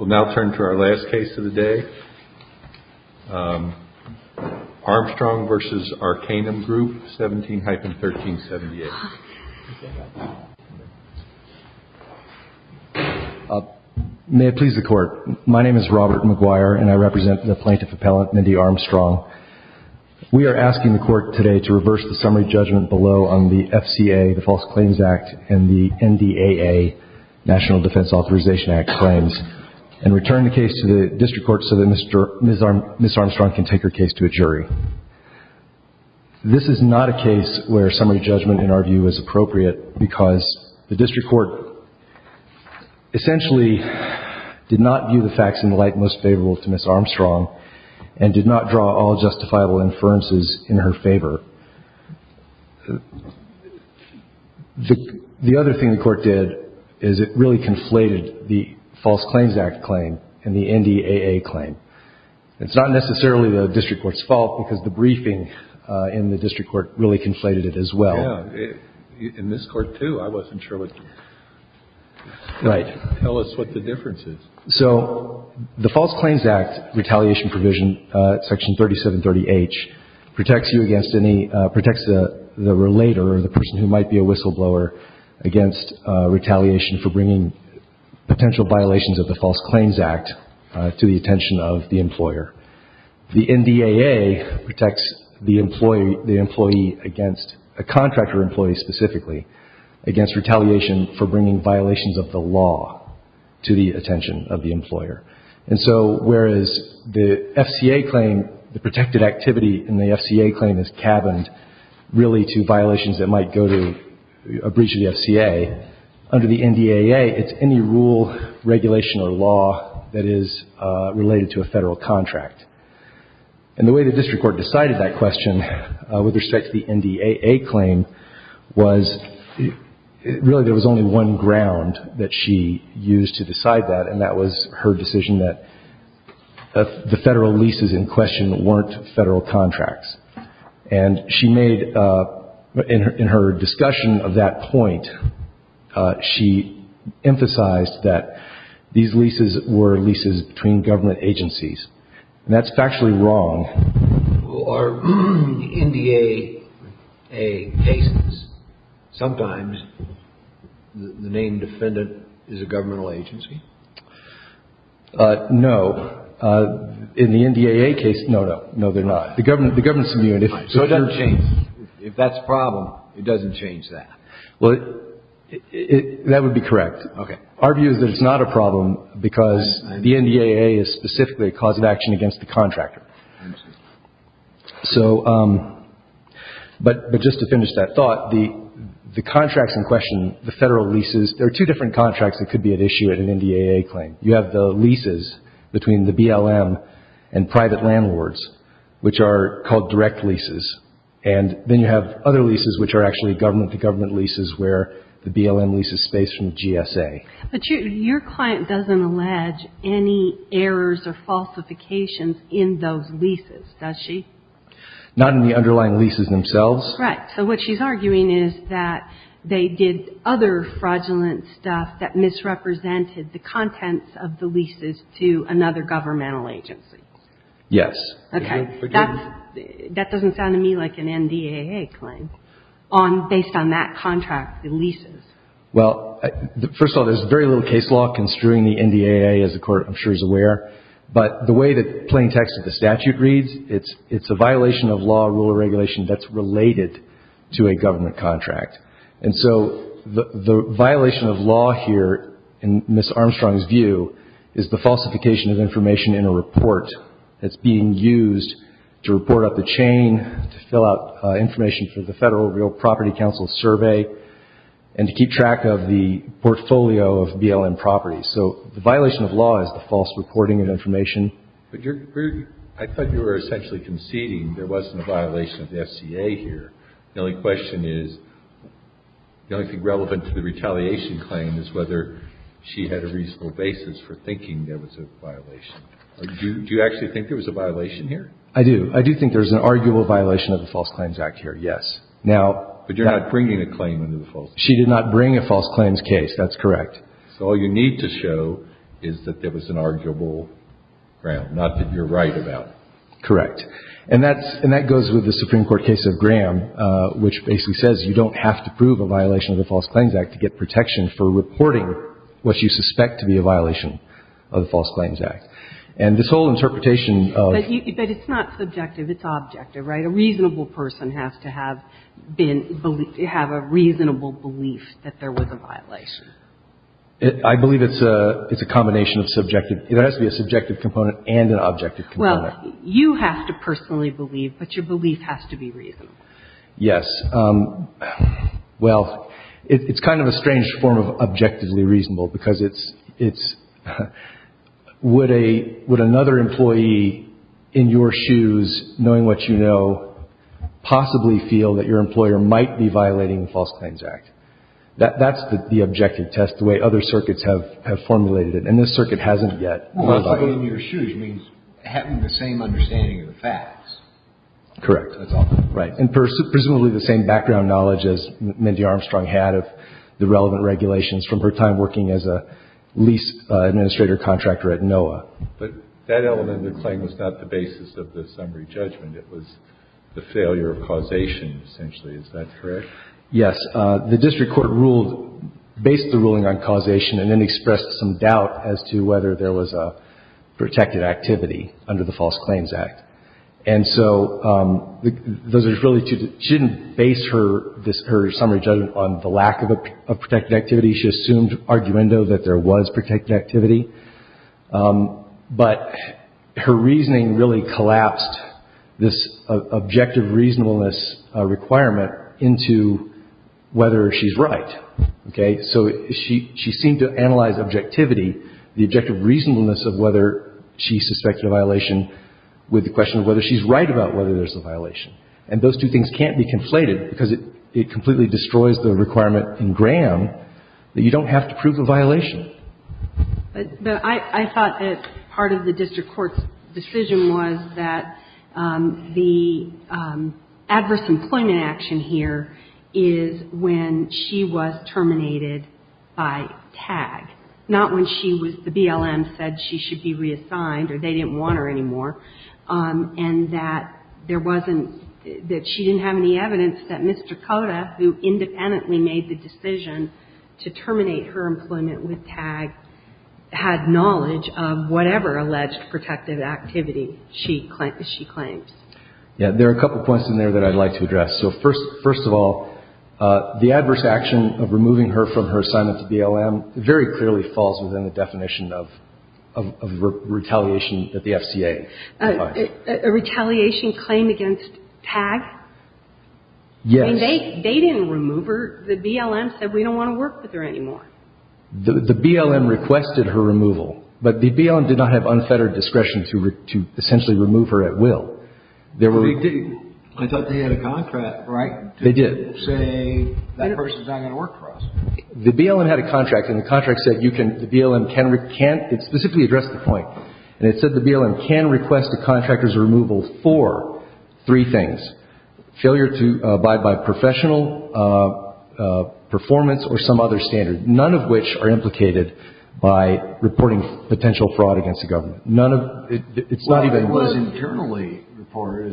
17-1378. May it please the Court. My name is Robert McGuire, and I represent the plaintiff appellant, Mindy Armstrong. We are asking the Court today to reverse the summary judgment below on the FCA, the False Claims Act, and the NDAA, National Defense Authorization Act, claims, and return the case to the District Court so that Ms. Armstrong can take her case to a jury. This is not a case where summary judgment, in our view, is appropriate because the District Court essentially did not view the facts in the light most favorable to Ms. Armstrong. The other thing the Court did is it really conflated the False Claims Act claim and the NDAA claim. It's not necessarily the District Court's fault because the briefing in the District Court really conflated it as well. Yeah. In this Court, too, I wasn't sure what the difference is. So the False Claims Act retaliation provision, Section 3730H, protects you against any, protects the relator or the person who might be a whistleblower against retaliation for bringing potential violations of the False Claims Act to the attention of the employer. The NDAA protects the employee, the employee against, a contractor employee specifically, against retaliation for bringing violations of the law to the attention of the employer. And so whereas the FCA claim, the protected activity in the FCA claim is cabined really to violations that might go to a breach of the FCA, under the NDAA it's any rule, regulation or law that is related to a Federal contract. And the way the District Court decided that question with respect to the NDAA claim was really there was only one ground that she used to decide that, and that was her decision that the Federal leases in question weren't Federal contracts. And she made, in her discussion of that point, she emphasized that these leases were leases between government agencies. And that's factually wrong. In the NDAA cases, sometimes the named defendant is a governmental agency? No. In the NDAA case, no, no. No, they're not. The government's immune. So it doesn't change. If that's the problem, it doesn't change that. That would be correct. Our view is that it's not a problem because the NDAA is specifically a cause of action against the contractor. So, but just to finish that thought, the contracts in question, the Federal leases, there are two different contracts that could be at issue at an NDAA claim. You have the leases between the BLM and private landlords, which are called direct leases, and then you have other leases which are actually government-to-government leases where the BLM leases space from GSA. But your client doesn't allege any errors or falsifications in those leases, does she? Not in the underlying leases themselves. Right. So what she's arguing is that they did other fraudulent stuff that misrepresented the contents of the leases to another governmental agency. Yes. Okay. That doesn't sound to me like an NDAA claim based on that contract, the leases. Well, first of all, there's very little case law construing the NDAA, as the Court, I'm sure, is aware. But the way that plain text of the statute reads, it's a violation of law, rule, or regulation that's related to a government contract. And so the violation of law here, in Ms. Armstrong's view, is the falsification of information in a report that's being used to report up the chain, to fill out information for the Federal Real Property Council survey, and to keep track of the portfolio of BLM properties. So the violation of law is the false reporting of information. But I thought you were essentially conceding there wasn't a violation of the FCA here. The only question is, the only thing relevant to the retaliation claim is whether she had a reasonable basis for thinking there was a violation. Do you actually think there was a violation here? I do. I do think there's an arguable violation of the False Claims Act here, yes. But you're not bringing a claim under the False Claims Act. She did not bring a false claims case. That's correct. So all you need to show is that there was an arguable ground, not that you're right about. Correct. And that goes with the Supreme Court case of Graham, which basically says you don't have to prove a violation of the False Claims Act. And this whole interpretation of — But it's not subjective. It's objective, right? A reasonable person has to have been — have a reasonable belief that there was a violation. I believe it's a combination of subjective. It has to be a subjective component and an objective component. Well, you have to personally believe, but your belief has to be reasonable. Yes. Well, it's kind of a strange form of objectively reasonable because it's — it's Would another employee in your shoes, knowing what you know, possibly feel that your employer might be violating the False Claims Act? That's the objective test, the way other circuits have formulated it. And this circuit hasn't yet. Well, in your shoes means having the same understanding of the facts. Correct. That's all. Right. And presumably the same background knowledge as Mindy Armstrong had of the relevant regulations from her time working as a lease administrator contractor at NOAA. But that element of the claim was not the basis of the summary judgment. It was the failure of causation, essentially. Is that correct? Yes. The district court ruled — based the ruling on causation and then expressed some doubt as to whether there was a protected activity under the False Claims Act. And so those are really two — she didn't base her summary judgment on the lack of a protected activity. She assumed arguendo that there was protected activity. But her reasoning really collapsed this objective reasonableness requirement into whether she's right. Okay? So she seemed to analyze objectivity, the objective reasonableness of whether she suspected a violation, with the question of whether she's right about whether there's a violation. And those two things can't be conflated because it completely destroys the requirement in Graham that you don't have to prove a violation. But I thought that part of the district court's decision was that the adverse employment action here is when she was terminated by TAG, not when she was — the BLM said she should be reassigned or they didn't want her anymore, and that there wasn't — that she didn't have any evidence that Mr. Cota, who independently made the decision to terminate her employment with TAG, had knowledge of whatever alleged protected activity she claimed. Yeah. There are a couple points in there that I'd like to address. So first of all, the adverse action of removing her from her assignment to BLM very clearly falls within the definition of retaliation that the FCA defines. A retaliation claim against TAG? Yes. I mean, they didn't remove her. The BLM said we don't want to work with her anymore. The BLM requested her removal. But the BLM did not have unfettered discretion to essentially remove her at will. There were — I thought they had a contract, right? They did. To say that person's not going to work for us. The BLM had a contract, and the contract said you can — the BLM can — it specifically addressed the point. And it said the BLM can request a contractor's removal for three things, failure to abide by professional performance or some other standard, none of which are implicated by reporting potential fraud against the government. None of — it's not even — It's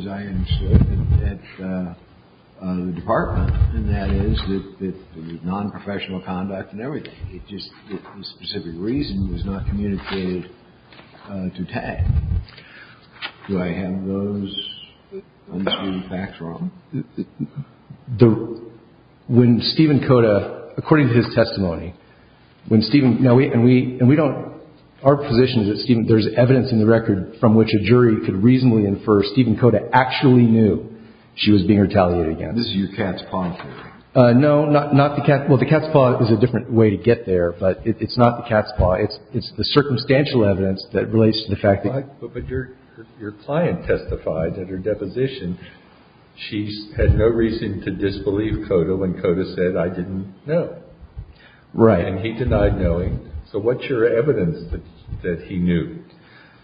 not even at the department, and that is that — the nonprofessional conduct and everything, it just — if a specific reason was not communicated to TAG. Do I have those unsweetened facts wrong? The — when Stephen Koda — according to his testimony, when Stephen — now, we — and we don't — our position is that, Stephen, there's evidence in the record from which a jury could reasonably infer Stephen Koda actually knew that there was no fraud. This is your cat's paw. No, not the cat's — well, the cat's paw is a different way to get there, but it's not the cat's paw. It's the circumstantial evidence that relates to the fact that — But your client testified at her deposition she had no reason to disbelieve Koda when Koda said, I didn't know. Right. And he denied knowing. So what's your evidence that he knew?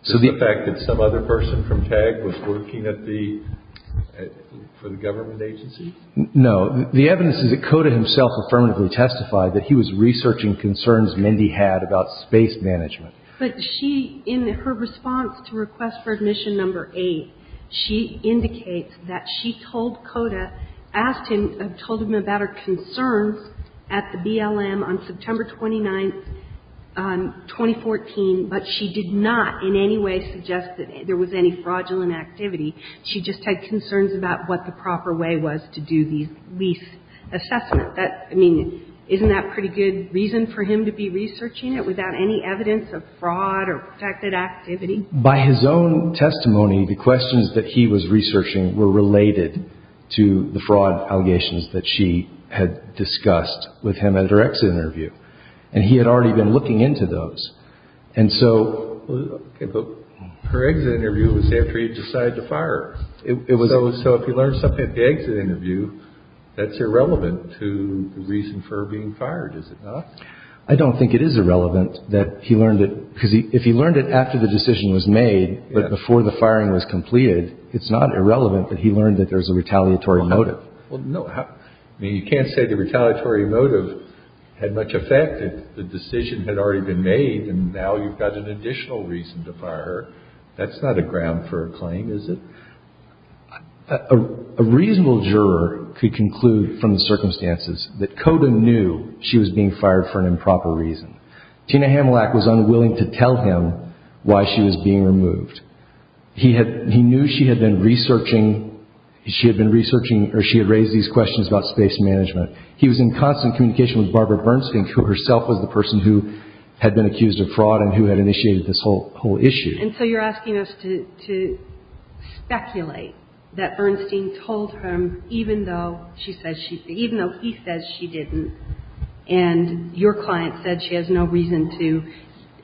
The fact that some other person from TAG was working at the — for the government agency? No. The evidence is that Koda himself affirmatively testified that he was researching concerns Mindy had about space management. But she, in her response to request for admission number eight, she indicates that she told Koda, told him about her concerns at the BLM on September 29th, 2014, but she did not in any way suggest that there was any fraudulent activity. She just had concerns about what the proper way was to do these lease assessments. That — I mean, isn't that pretty good reason for him to be researching it without any evidence of fraud or protected activity? By his own testimony, the questions that he was researching were related to the fraud allegations that she had discussed with him at her exit interview. And he had already been looking into those. And so — Okay. But her exit interview was after he decided to fire her. It was — So if he learned something at the exit interview, that's irrelevant to the reason for being fired, is it not? I don't think it is irrelevant that he learned it, because if he learned it after the decision was made, but before the firing was completed, it's not irrelevant that he learned that there's a retaliatory motive. Well, no. I mean, you can't say the retaliatory motive had much effect if the decision had already been made, and now you've got an additional reason to fire her. That's not a ground for a claim, is it? A reasonable juror could conclude from the circumstances that Coda knew she was being fired for an improper reason. Tina Hamillack was unwilling to tell him why she was being removed. He knew she had been researching — she had been researching — or she had raised these questions about space management. He was in constant communication with Barbara Bernstein, who herself was the person who had been accused of fraud and who had initiated this whole issue. And so you're asking us to speculate that Bernstein told him even though she said she — even though he says she didn't, and your client said she has no reason to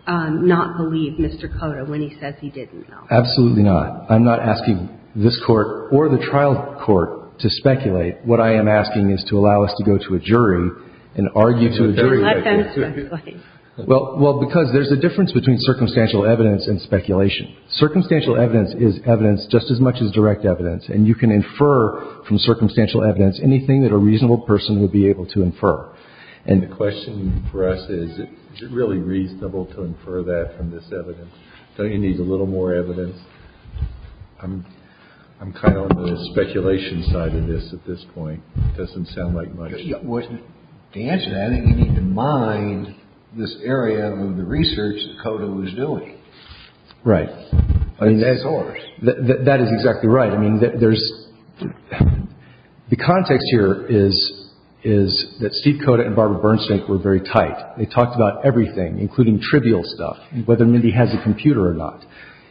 not believe Mr. Coda when he says he didn't know. Absolutely not. I'm not asking this Court or the trial court to speculate. What I am asking is to allow us to go to a jury and argue to a jury verdict. I'm not going to speculate. Well, because there's a difference between circumstantial evidence and speculation. Circumstantial evidence is evidence just as much as direct evidence, and you can infer from circumstantial evidence anything that a reasonable person would be able to infer. And the question for us is, is it really reasonable to infer that from this evidence? Don't you need a little more evidence? I'm kind of on the speculation side of this at this point. It doesn't sound like much. To answer that, I think you need to mind this area of the research that Coda was doing. Right. That's his source. That is exactly right. I mean, there's — the context here is that Steve Coda and Barbara Bernstein were very tight. They talked about everything, including trivial stuff, whether Mindy has a computer or not.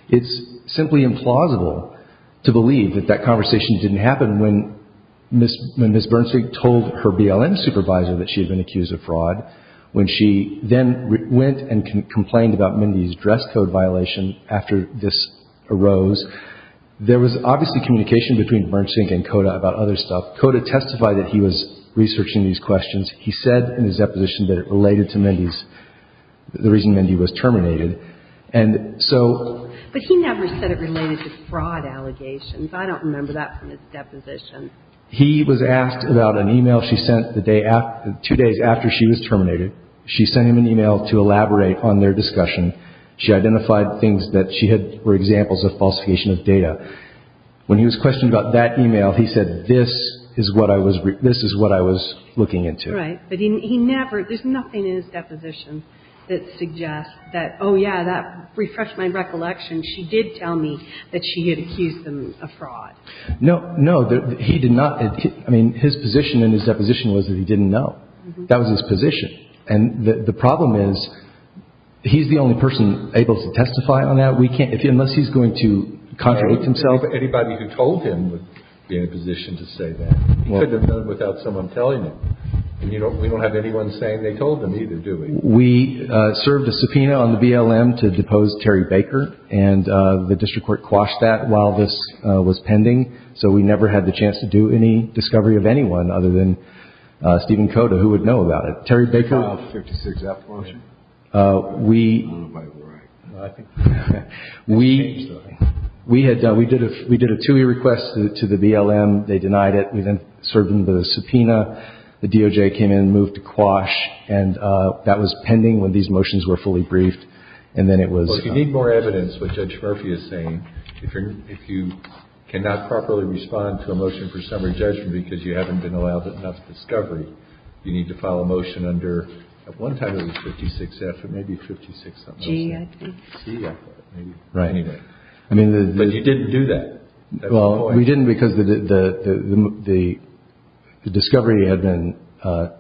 It's simply implausible to believe that that conversation didn't happen when Ms. Bernstein told her BLM supervisor that she had been accused of fraud, when she then went and complained about Mindy's dress code violation after this arose. There was obviously communication between Bernstein and Coda about other stuff. Coda testified that he was researching these questions. He said in his deposition that it related to Mindy's — the reason Mindy was terminated. And so — But he never said it related to fraud allegations. I don't remember that from his deposition. He was asked about an e-mail she sent the day — two days after she was terminated. She sent him an e-mail to elaborate on their discussion. She identified things that she had — were examples of falsification of data. When he was questioned about that e-mail, he said, this is what I was — this is what I was looking into. Right. But he never — there's nothing in his deposition that suggests that, oh, yeah, that refreshed my recollection. She did tell me that she had accused him of fraud. No, no. He did not. I mean, his position in his deposition was that he didn't know. That was his position. And the problem is, he's the only person able to testify on that. We can't — unless he's going to contradict himself. Anybody who told him would be in a position to say that. He couldn't have done it without someone telling him. And you don't — we don't have anyone saying they told him either, do we? We served a subpoena on the BLM to depose Terry Baker. And the district court quashed that while this was pending. So we never had the chance to do any discovery of anyone other than Stephen Cota, who would know about it. Terry Baker — He filed a 56-F motion. We — I think — We had done — we did a two-year request to the BLM. They denied it. We then served him the subpoena. The DOJ came in and moved to quash. And that was pending when these motions were fully briefed. And then it was — Well, if you need more evidence, what Judge Murphy is saying, if you're — if you cannot properly respond to a motion for summary judgment because you haven't been allowed enough discovery, you need to file a motion under — at one time it was 56-F, but maybe 56-something. G-E-F-F. G-E-F-F, maybe. Right. Anyway. I mean, the — But you didn't do that. Well, we didn't because the discovery had been — had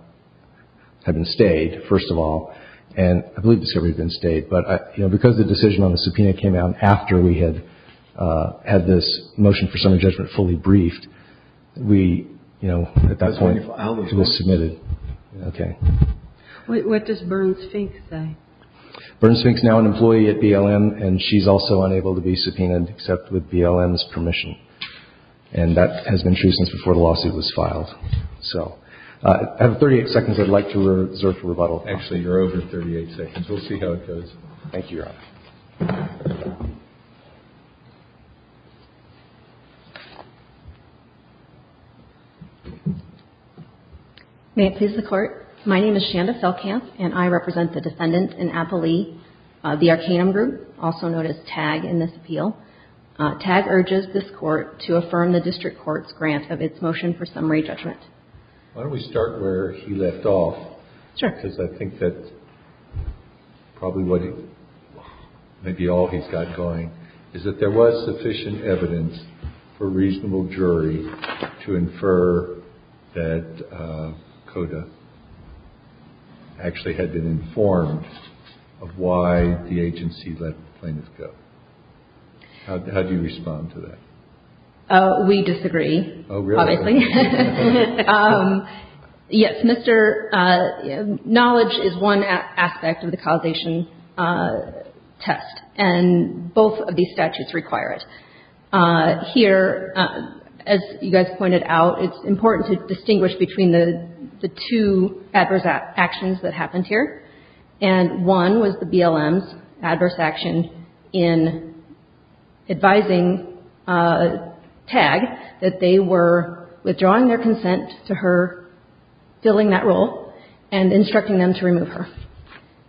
been stayed, first of all. And I believe the discovery had been stayed. But, you know, because the decision on the subpoena came out after we had had this motion for summary judgment fully briefed, we, you know, at that point — That's when you filed the motion. — it was submitted. Okay. What does Burns-Fink say? Burns-Fink's now an employee at BLM, and she's also unable to be subpoenaed except with BLM's permission. And that has been true since before the lawsuit was filed. So I have 38 seconds I'd like to reserve for rebuttal. Actually, you're over 38 seconds. We'll see how it goes. Thank you, Your Honor. May it please the Court. My name is Shanda Felkamp, and I represent the defendants in Appalee, the Arcanum Group, also known as TAG, in this appeal. TAG urges this Court to affirm the district court's grant of its motion for summary judgment. Why don't we start where he left off? Sure. Because I think that's probably what he — maybe all he's got going is that there was sufficient evidence for a reasonable jury to infer that CODA actually had been informed of why the agency let the plaintiffs go. How do you respond to that? Oh, really? Yes, Mr. — knowledge is one aspect of the causation test, and both of these statutes require it. Here, as you guys pointed out, it's important to distinguish between the two adverse actions that happened here. And one was the BLM's adverse action in advising TAG that they were withdrawing their consent to her filling that role and instructing them to remove her.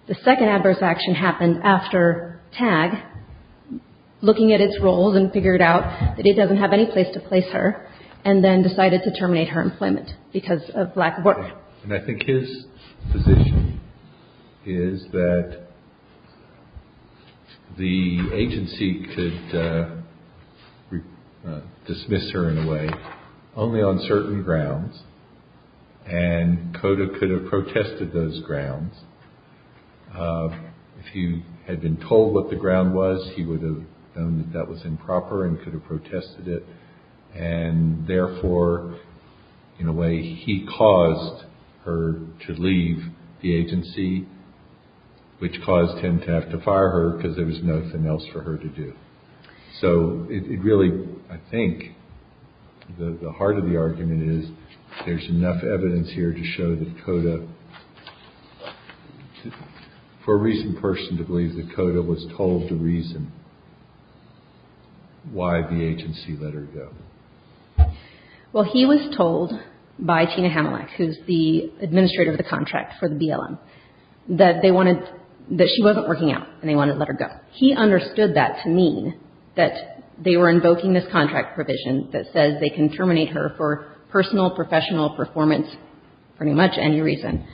The second adverse action happened after TAG, looking at its roles and figured out that he doesn't have any place to place her, and then decided to terminate her employment because of lack of work. And I think his position is that the agency could dismiss her, in a way, only on certain grounds, and CODA could have protested those grounds. If he had been told what the ground was, he would have known that that was improper and could have protested it, and therefore, in a way, he caused her to leave the agency, which caused him to have to fire her because there was nothing else for her to do. So it really — I think the heart of the argument is there's enough evidence here to show that CODA — for a recent person to believe that CODA was told to reason why the agency let her go. Well, he was told by Tina Hamillack, who's the administrator of the contract for the BLM, that they wanted — that she wasn't working out and they wanted to let her go. He understood that to mean that they were invoking this contract provision that says they can terminate her for personal, professional, performance, pretty much any reason.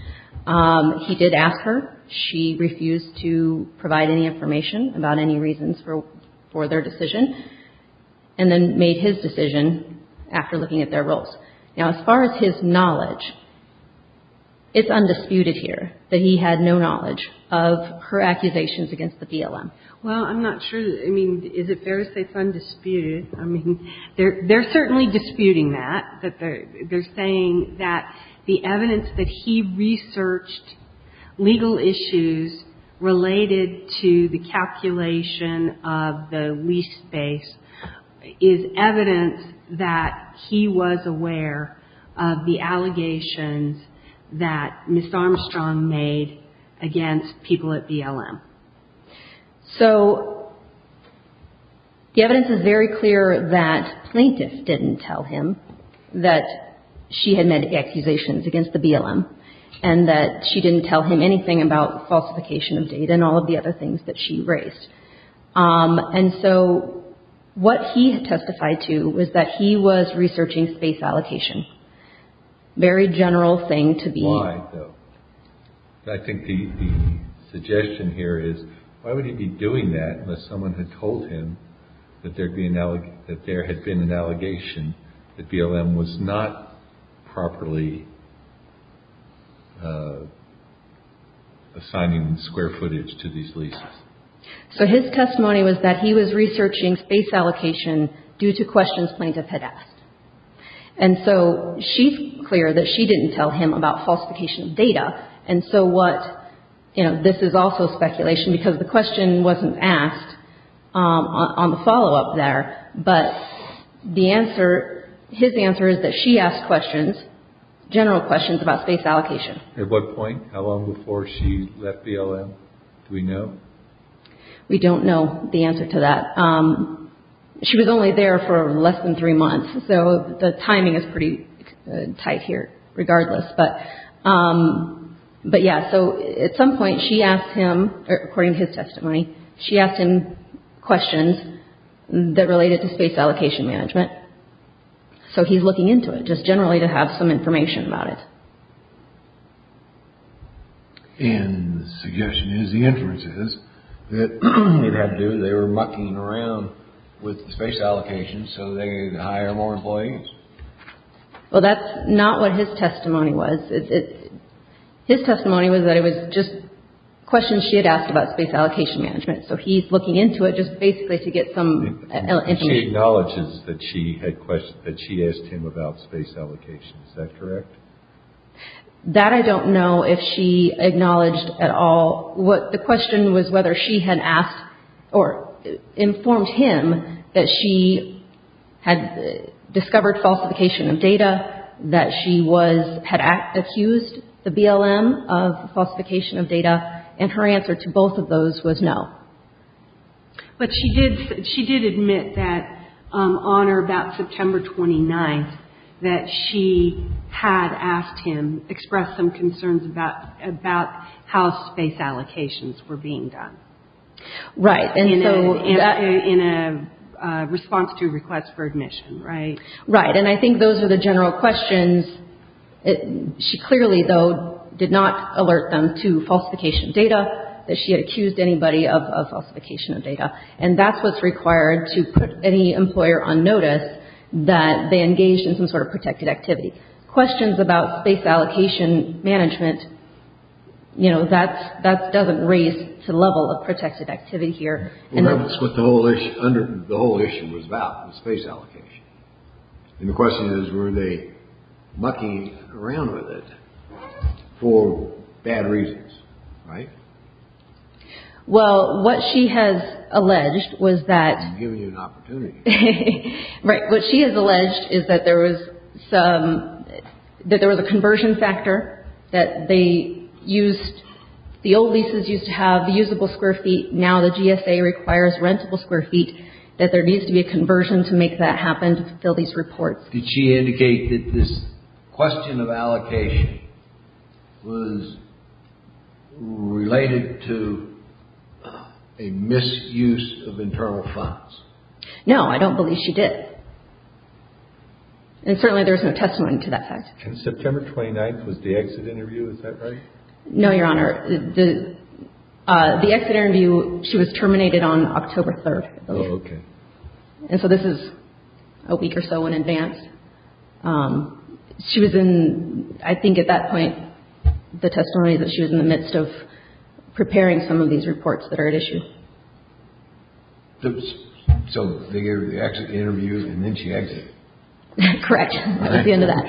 He did ask her. She refused to provide any information about any reasons for their decision, and then made his decision after looking at their roles. Now, as far as his knowledge, it's undisputed here that he had no knowledge of her accusations against the BLM. Well, I'm not sure — I mean, is it fair to say it's undisputed? I mean, they're certainly disputing that. They're saying that the evidence that he researched legal issues related to the calculation of the lease space is evidence that he was aware of the allegations that Ms. Armstrong made against people at BLM. So the evidence is very clear that plaintiff didn't tell him that she had made accusations against the BLM, and that she didn't tell him anything about falsification of data and all of the other things that she raised. And so what he testified to was that he was researching space allocation. Very general thing to be — unless someone had told him that there had been an allegation that BLM was not properly assigning square footage to these leases. So his testimony was that he was researching space allocation due to questions plaintiff had asked. And so she's clear that she didn't tell him about falsification of data. And so what — you know, this is also speculation because the question wasn't asked on the follow-up there. But the answer — his answer is that she asked questions, general questions, about space allocation. At what point? How long before she left BLM do we know? We don't know the answer to that. She was only there for less than three months. So the timing is pretty tight here regardless. But, yeah, so at some point she asked him, according to his testimony, she asked him questions that related to space allocation management. So he's looking into it just generally to have some information about it. And the suggestion is the inferences that they were mucking around with space allocation so they could hire more employees. Well, that's not what his testimony was. His testimony was that it was just questions she had asked about space allocation management. So he's looking into it just basically to get some information. She acknowledges that she had — that she asked him about space allocation. Is that correct? That I don't know if she acknowledged at all. Well, the question was whether she had asked or informed him that she had discovered falsification of data, that she was — had accused the BLM of falsification of data, and her answer to both of those was no. But she did — she did admit that on or about September 29th that she had asked him, expressed some concerns about — about how space allocations were being done. Right. And so — In a — in a response to a request for admission, right? Right. And I think those were the general questions. She clearly, though, did not alert them to falsification of data, that she had accused anybody of falsification of data. And that's what's required to put any employer on notice that they engaged in some sort of protected activity. Questions about space allocation management, you know, that's — that doesn't raise to the level of protected activity here. Well, that's what the whole issue — the whole issue was about, was space allocation. And the question is, were they mucking around with it for bad reasons, right? Well, what she has alleged was that — I'm giving you an opportunity. Right. What she has alleged is that there was some — that there was a conversion factor, that they used — the old leases used to have the usable square feet, now the GSA requires rentable square feet, that there needs to be a conversion to make that happen to fulfill these reports. Did she indicate that this question of allocation was related to a misuse of internal funds? No, I don't believe she did. And certainly there's no testimony to that fact. And September 29th was the exit interview, is that right? No, Your Honor. The — the exit interview, she was terminated on October 3rd. Oh, okay. And so this is a week or so in advance. She was in, I think at that point, the testimony that she was in the midst of preparing some of these reports that are at issue. So they gave her the exit interview, and then she exited? Correct. That was the end of that.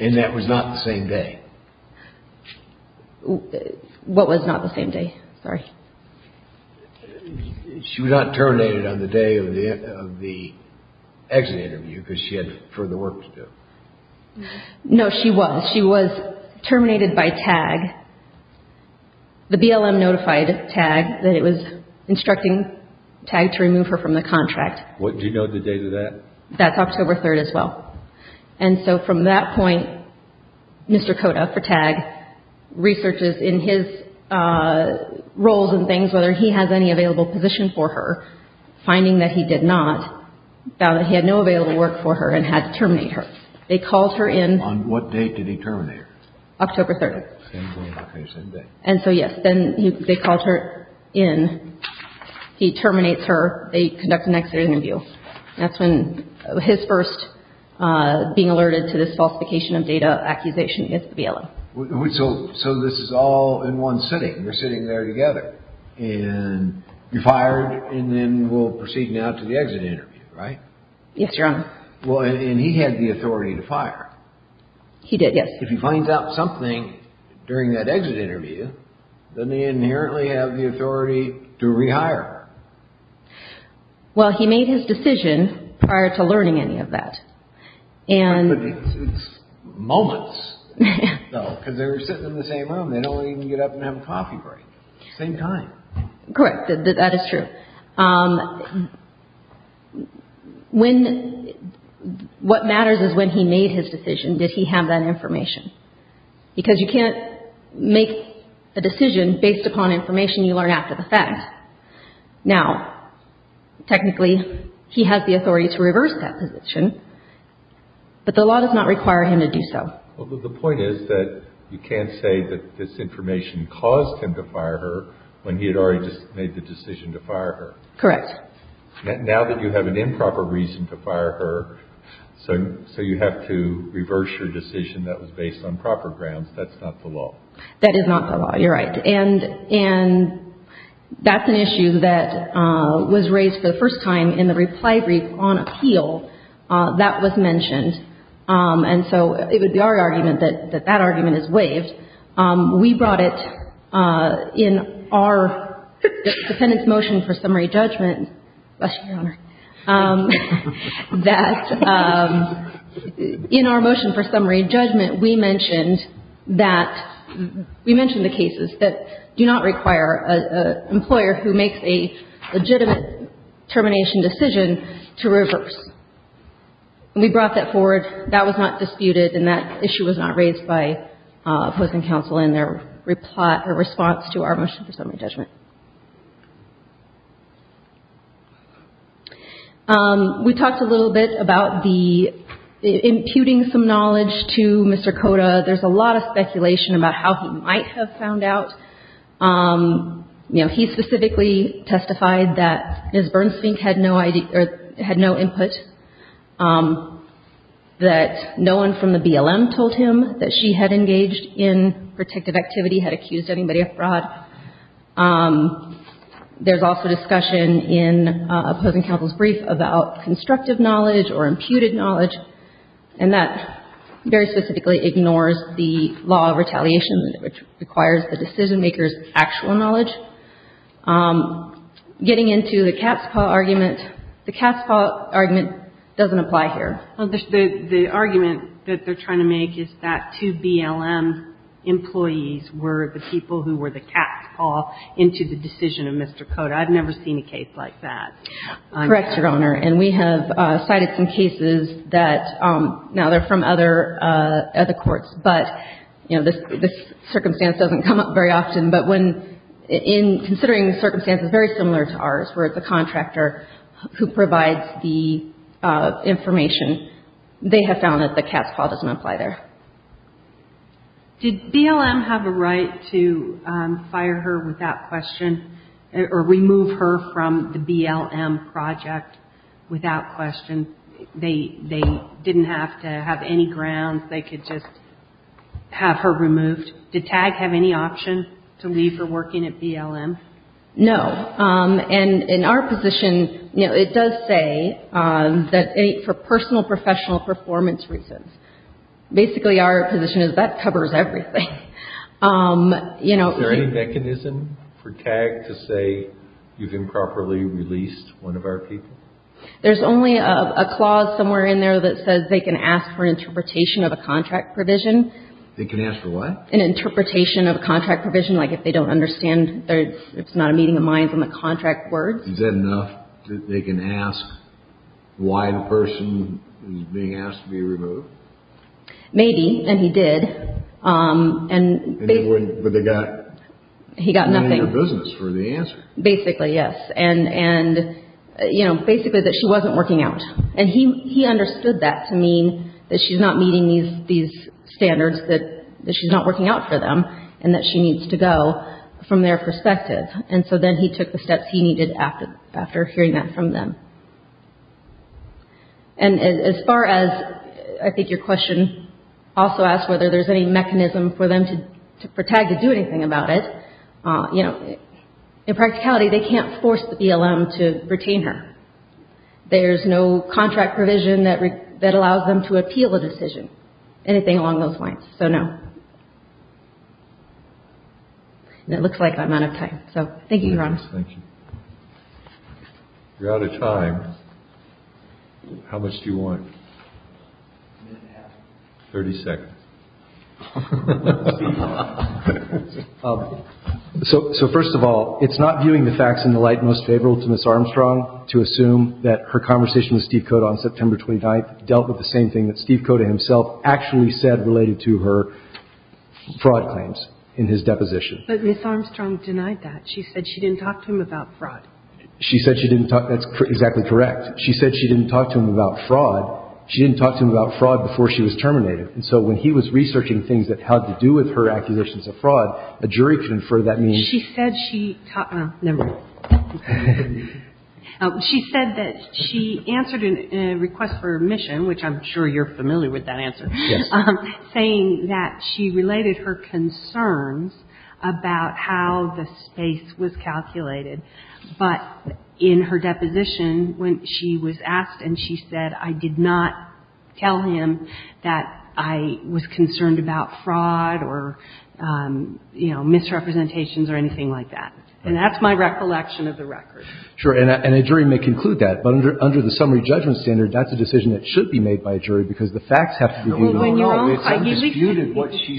And that was not the same day? What was not the same day? Sorry. She was not terminated on the day of the exit interview because she had further work to do? No, she was. She was terminated by TAG. The BLM notified TAG that it was instructing TAG to remove her from the contract. Do you know the date of that? That's October 3rd as well. And so from that point, Mr. Cota for TAG, researches in his roles and things, whether he has any available position for her, finding that he did not, found that he had no available work for her and had to terminate her. They called her in. On what date did he terminate her? October 3rd. Same day? Same day. And so, yes, then they called her in. He terminates her. They conduct an exit interview. That's when his first being alerted to this falsification of data accusation against the BLM. So this is all in one sitting. We're sitting there together. And you fired and then we'll proceed now to the exit interview, right? Yes, Your Honor. Well, and he had the authority to fire. He did, yes. If he finds out something during that exit interview, then they inherently have the authority to rehire her. Well, he made his decision prior to learning any of that. But it's moments, though, because they were sitting in the same room. They don't even get up and have a coffee break. Same time. Correct. That is true. What matters is when he made his decision, did he have that information? Because you can't make a decision based upon information you learn after the fact. Now, technically, he has the authority to reverse that position, but the law does not require him to do so. Well, the point is that you can't say that this information caused him to fire her when he had already made the decision to fire her. Correct. Now that you have an improper reason to fire her, so you have to reverse your decision that was based on proper grounds, that's not the law. That is not the law. You're right. And that's an issue that was raised for the first time in the reply brief on appeal. That was mentioned. And so it would be our argument that that argument is waived. We brought it in our defendant's motion for summary judgment. Bless you, Your Honor. That in our motion for summary judgment, we mentioned that, we mentioned the cases that do not require an employer who makes a legitimate termination decision to reverse. And we brought that forward. That was not disputed, and that issue was not raised by opposing counsel in their response to our motion for summary judgment. We talked a little bit about the imputing some knowledge to Mr. Koda. There's a lot of speculation about how he might have found out. You know, he specifically testified that Ms. Bernsfink had no input, that no one from the BLM told him that she had engaged in protective activity, had accused anybody of fraud. There's also discussion in opposing counsel's brief about constructive knowledge or imputed knowledge, and that very specifically ignores the law of retaliation, which requires the decision-maker's actual knowledge. Getting into the Catspaw argument, the Catspaw argument doesn't apply here. Well, the argument that they're trying to make is that two BLM employees were the people who were the Catspaw into the decision of Mr. Koda. I've never seen a case like that. Correct, Your Honor. And we have cited some cases that, now, they're from other courts, but, you know, this circumstance doesn't come up very often. But when, in considering the circumstances very similar to ours, where it's a contractor who provides the information, they have found that the Catspaw doesn't apply there. Did BLM have a right to fire her without question or remove her from the BLM project without question? They didn't have to have any grounds. They could just have her removed. Did TAG have any option to leave her working at BLM? No. And in our position, you know, it does say that for personal professional performance reasons. Basically, our position is that covers everything. Is there any mechanism for TAG to say you've improperly released one of our people? There's only a clause somewhere in there that says they can ask for interpretation of a contract provision. They can ask for what? An interpretation of a contract provision, like if they don't understand that it's not a meeting of minds on the contract words. Is that enough that they can ask why the person is being asked to be removed? Maybe. And he did. But they got nothing in their business for the answer. Basically, yes. And, you know, basically that she wasn't working out. And he understood that to mean that she's not meeting these standards, that she's not working out for them, and that she needs to go from their perspective. And so then he took the steps he needed after hearing that from them. And as far as I think your question also asks whether there's any mechanism for TAG to do anything about it, you know, in practicality, they can't force the BLM to retain her. There's no contract provision that allows them to appeal a decision, anything along those lines. So no. And it looks like I'm out of time. So thank you, Your Honor. Thank you. You're out of time. How much do you want? A minute and a half. 30 seconds. So first of all, it's not viewing the facts in the light most favorable to Ms. Armstrong to assume that her conversation with Steve Cota on September 29th dealt with the same thing that Steve Cota himself actually said related to her fraud claims in his deposition. But Ms. Armstrong denied that. She said she didn't talk to him about fraud. She said she didn't talk. That's exactly correct. She said she didn't talk to him about fraud. She didn't talk to him about fraud before she was terminated. And so when he was researching things that had to do with her accusations of fraud, a jury could infer that means. She said she talked. Never mind. She said that she answered a request for admission, which I'm sure you're familiar with that answer. Yes. Saying that she related her concerns about how the space was calculated. But in her deposition, when she was asked and she said, I did not tell him that I was concerned about fraud or, you know, misrepresentations or anything like that. And that's my recollection of the record. Sure. And a jury may conclude that. But under the summary judgment standard, that's a decision that should be made by a jury because the facts have to be viewed in the light. Well, when you're on trial, you should be viewed in the light. It's undisputed what she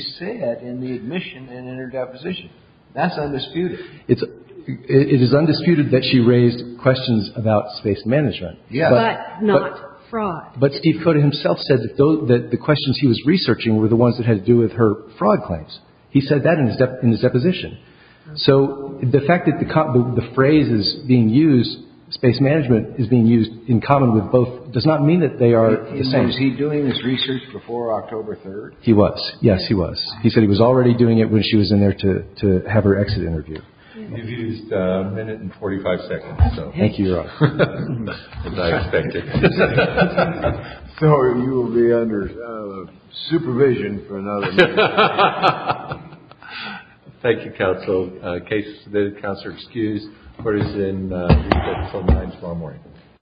said in the admission and in her deposition. That's undisputed. It's it is undisputed that she raised questions about space management. Yeah. But not fraud. But he put himself said that the questions he was researching were the ones that had to do with her fraud claims. He said that in his in his deposition. So the fact that the phrase is being used, space management is being used in common with both does not mean that they are the same. Is he doing this research before October 3rd? He was. Yes, he was. He said he was already doing it when she was in there to have her exit interview. You've used a minute and 45 seconds. Thank you, Your Honor. As I expected. Sorry. You will be under supervision for another minute. Thank you, counsel. In case the counsel is excused, court is in room 9 tomorrow morning.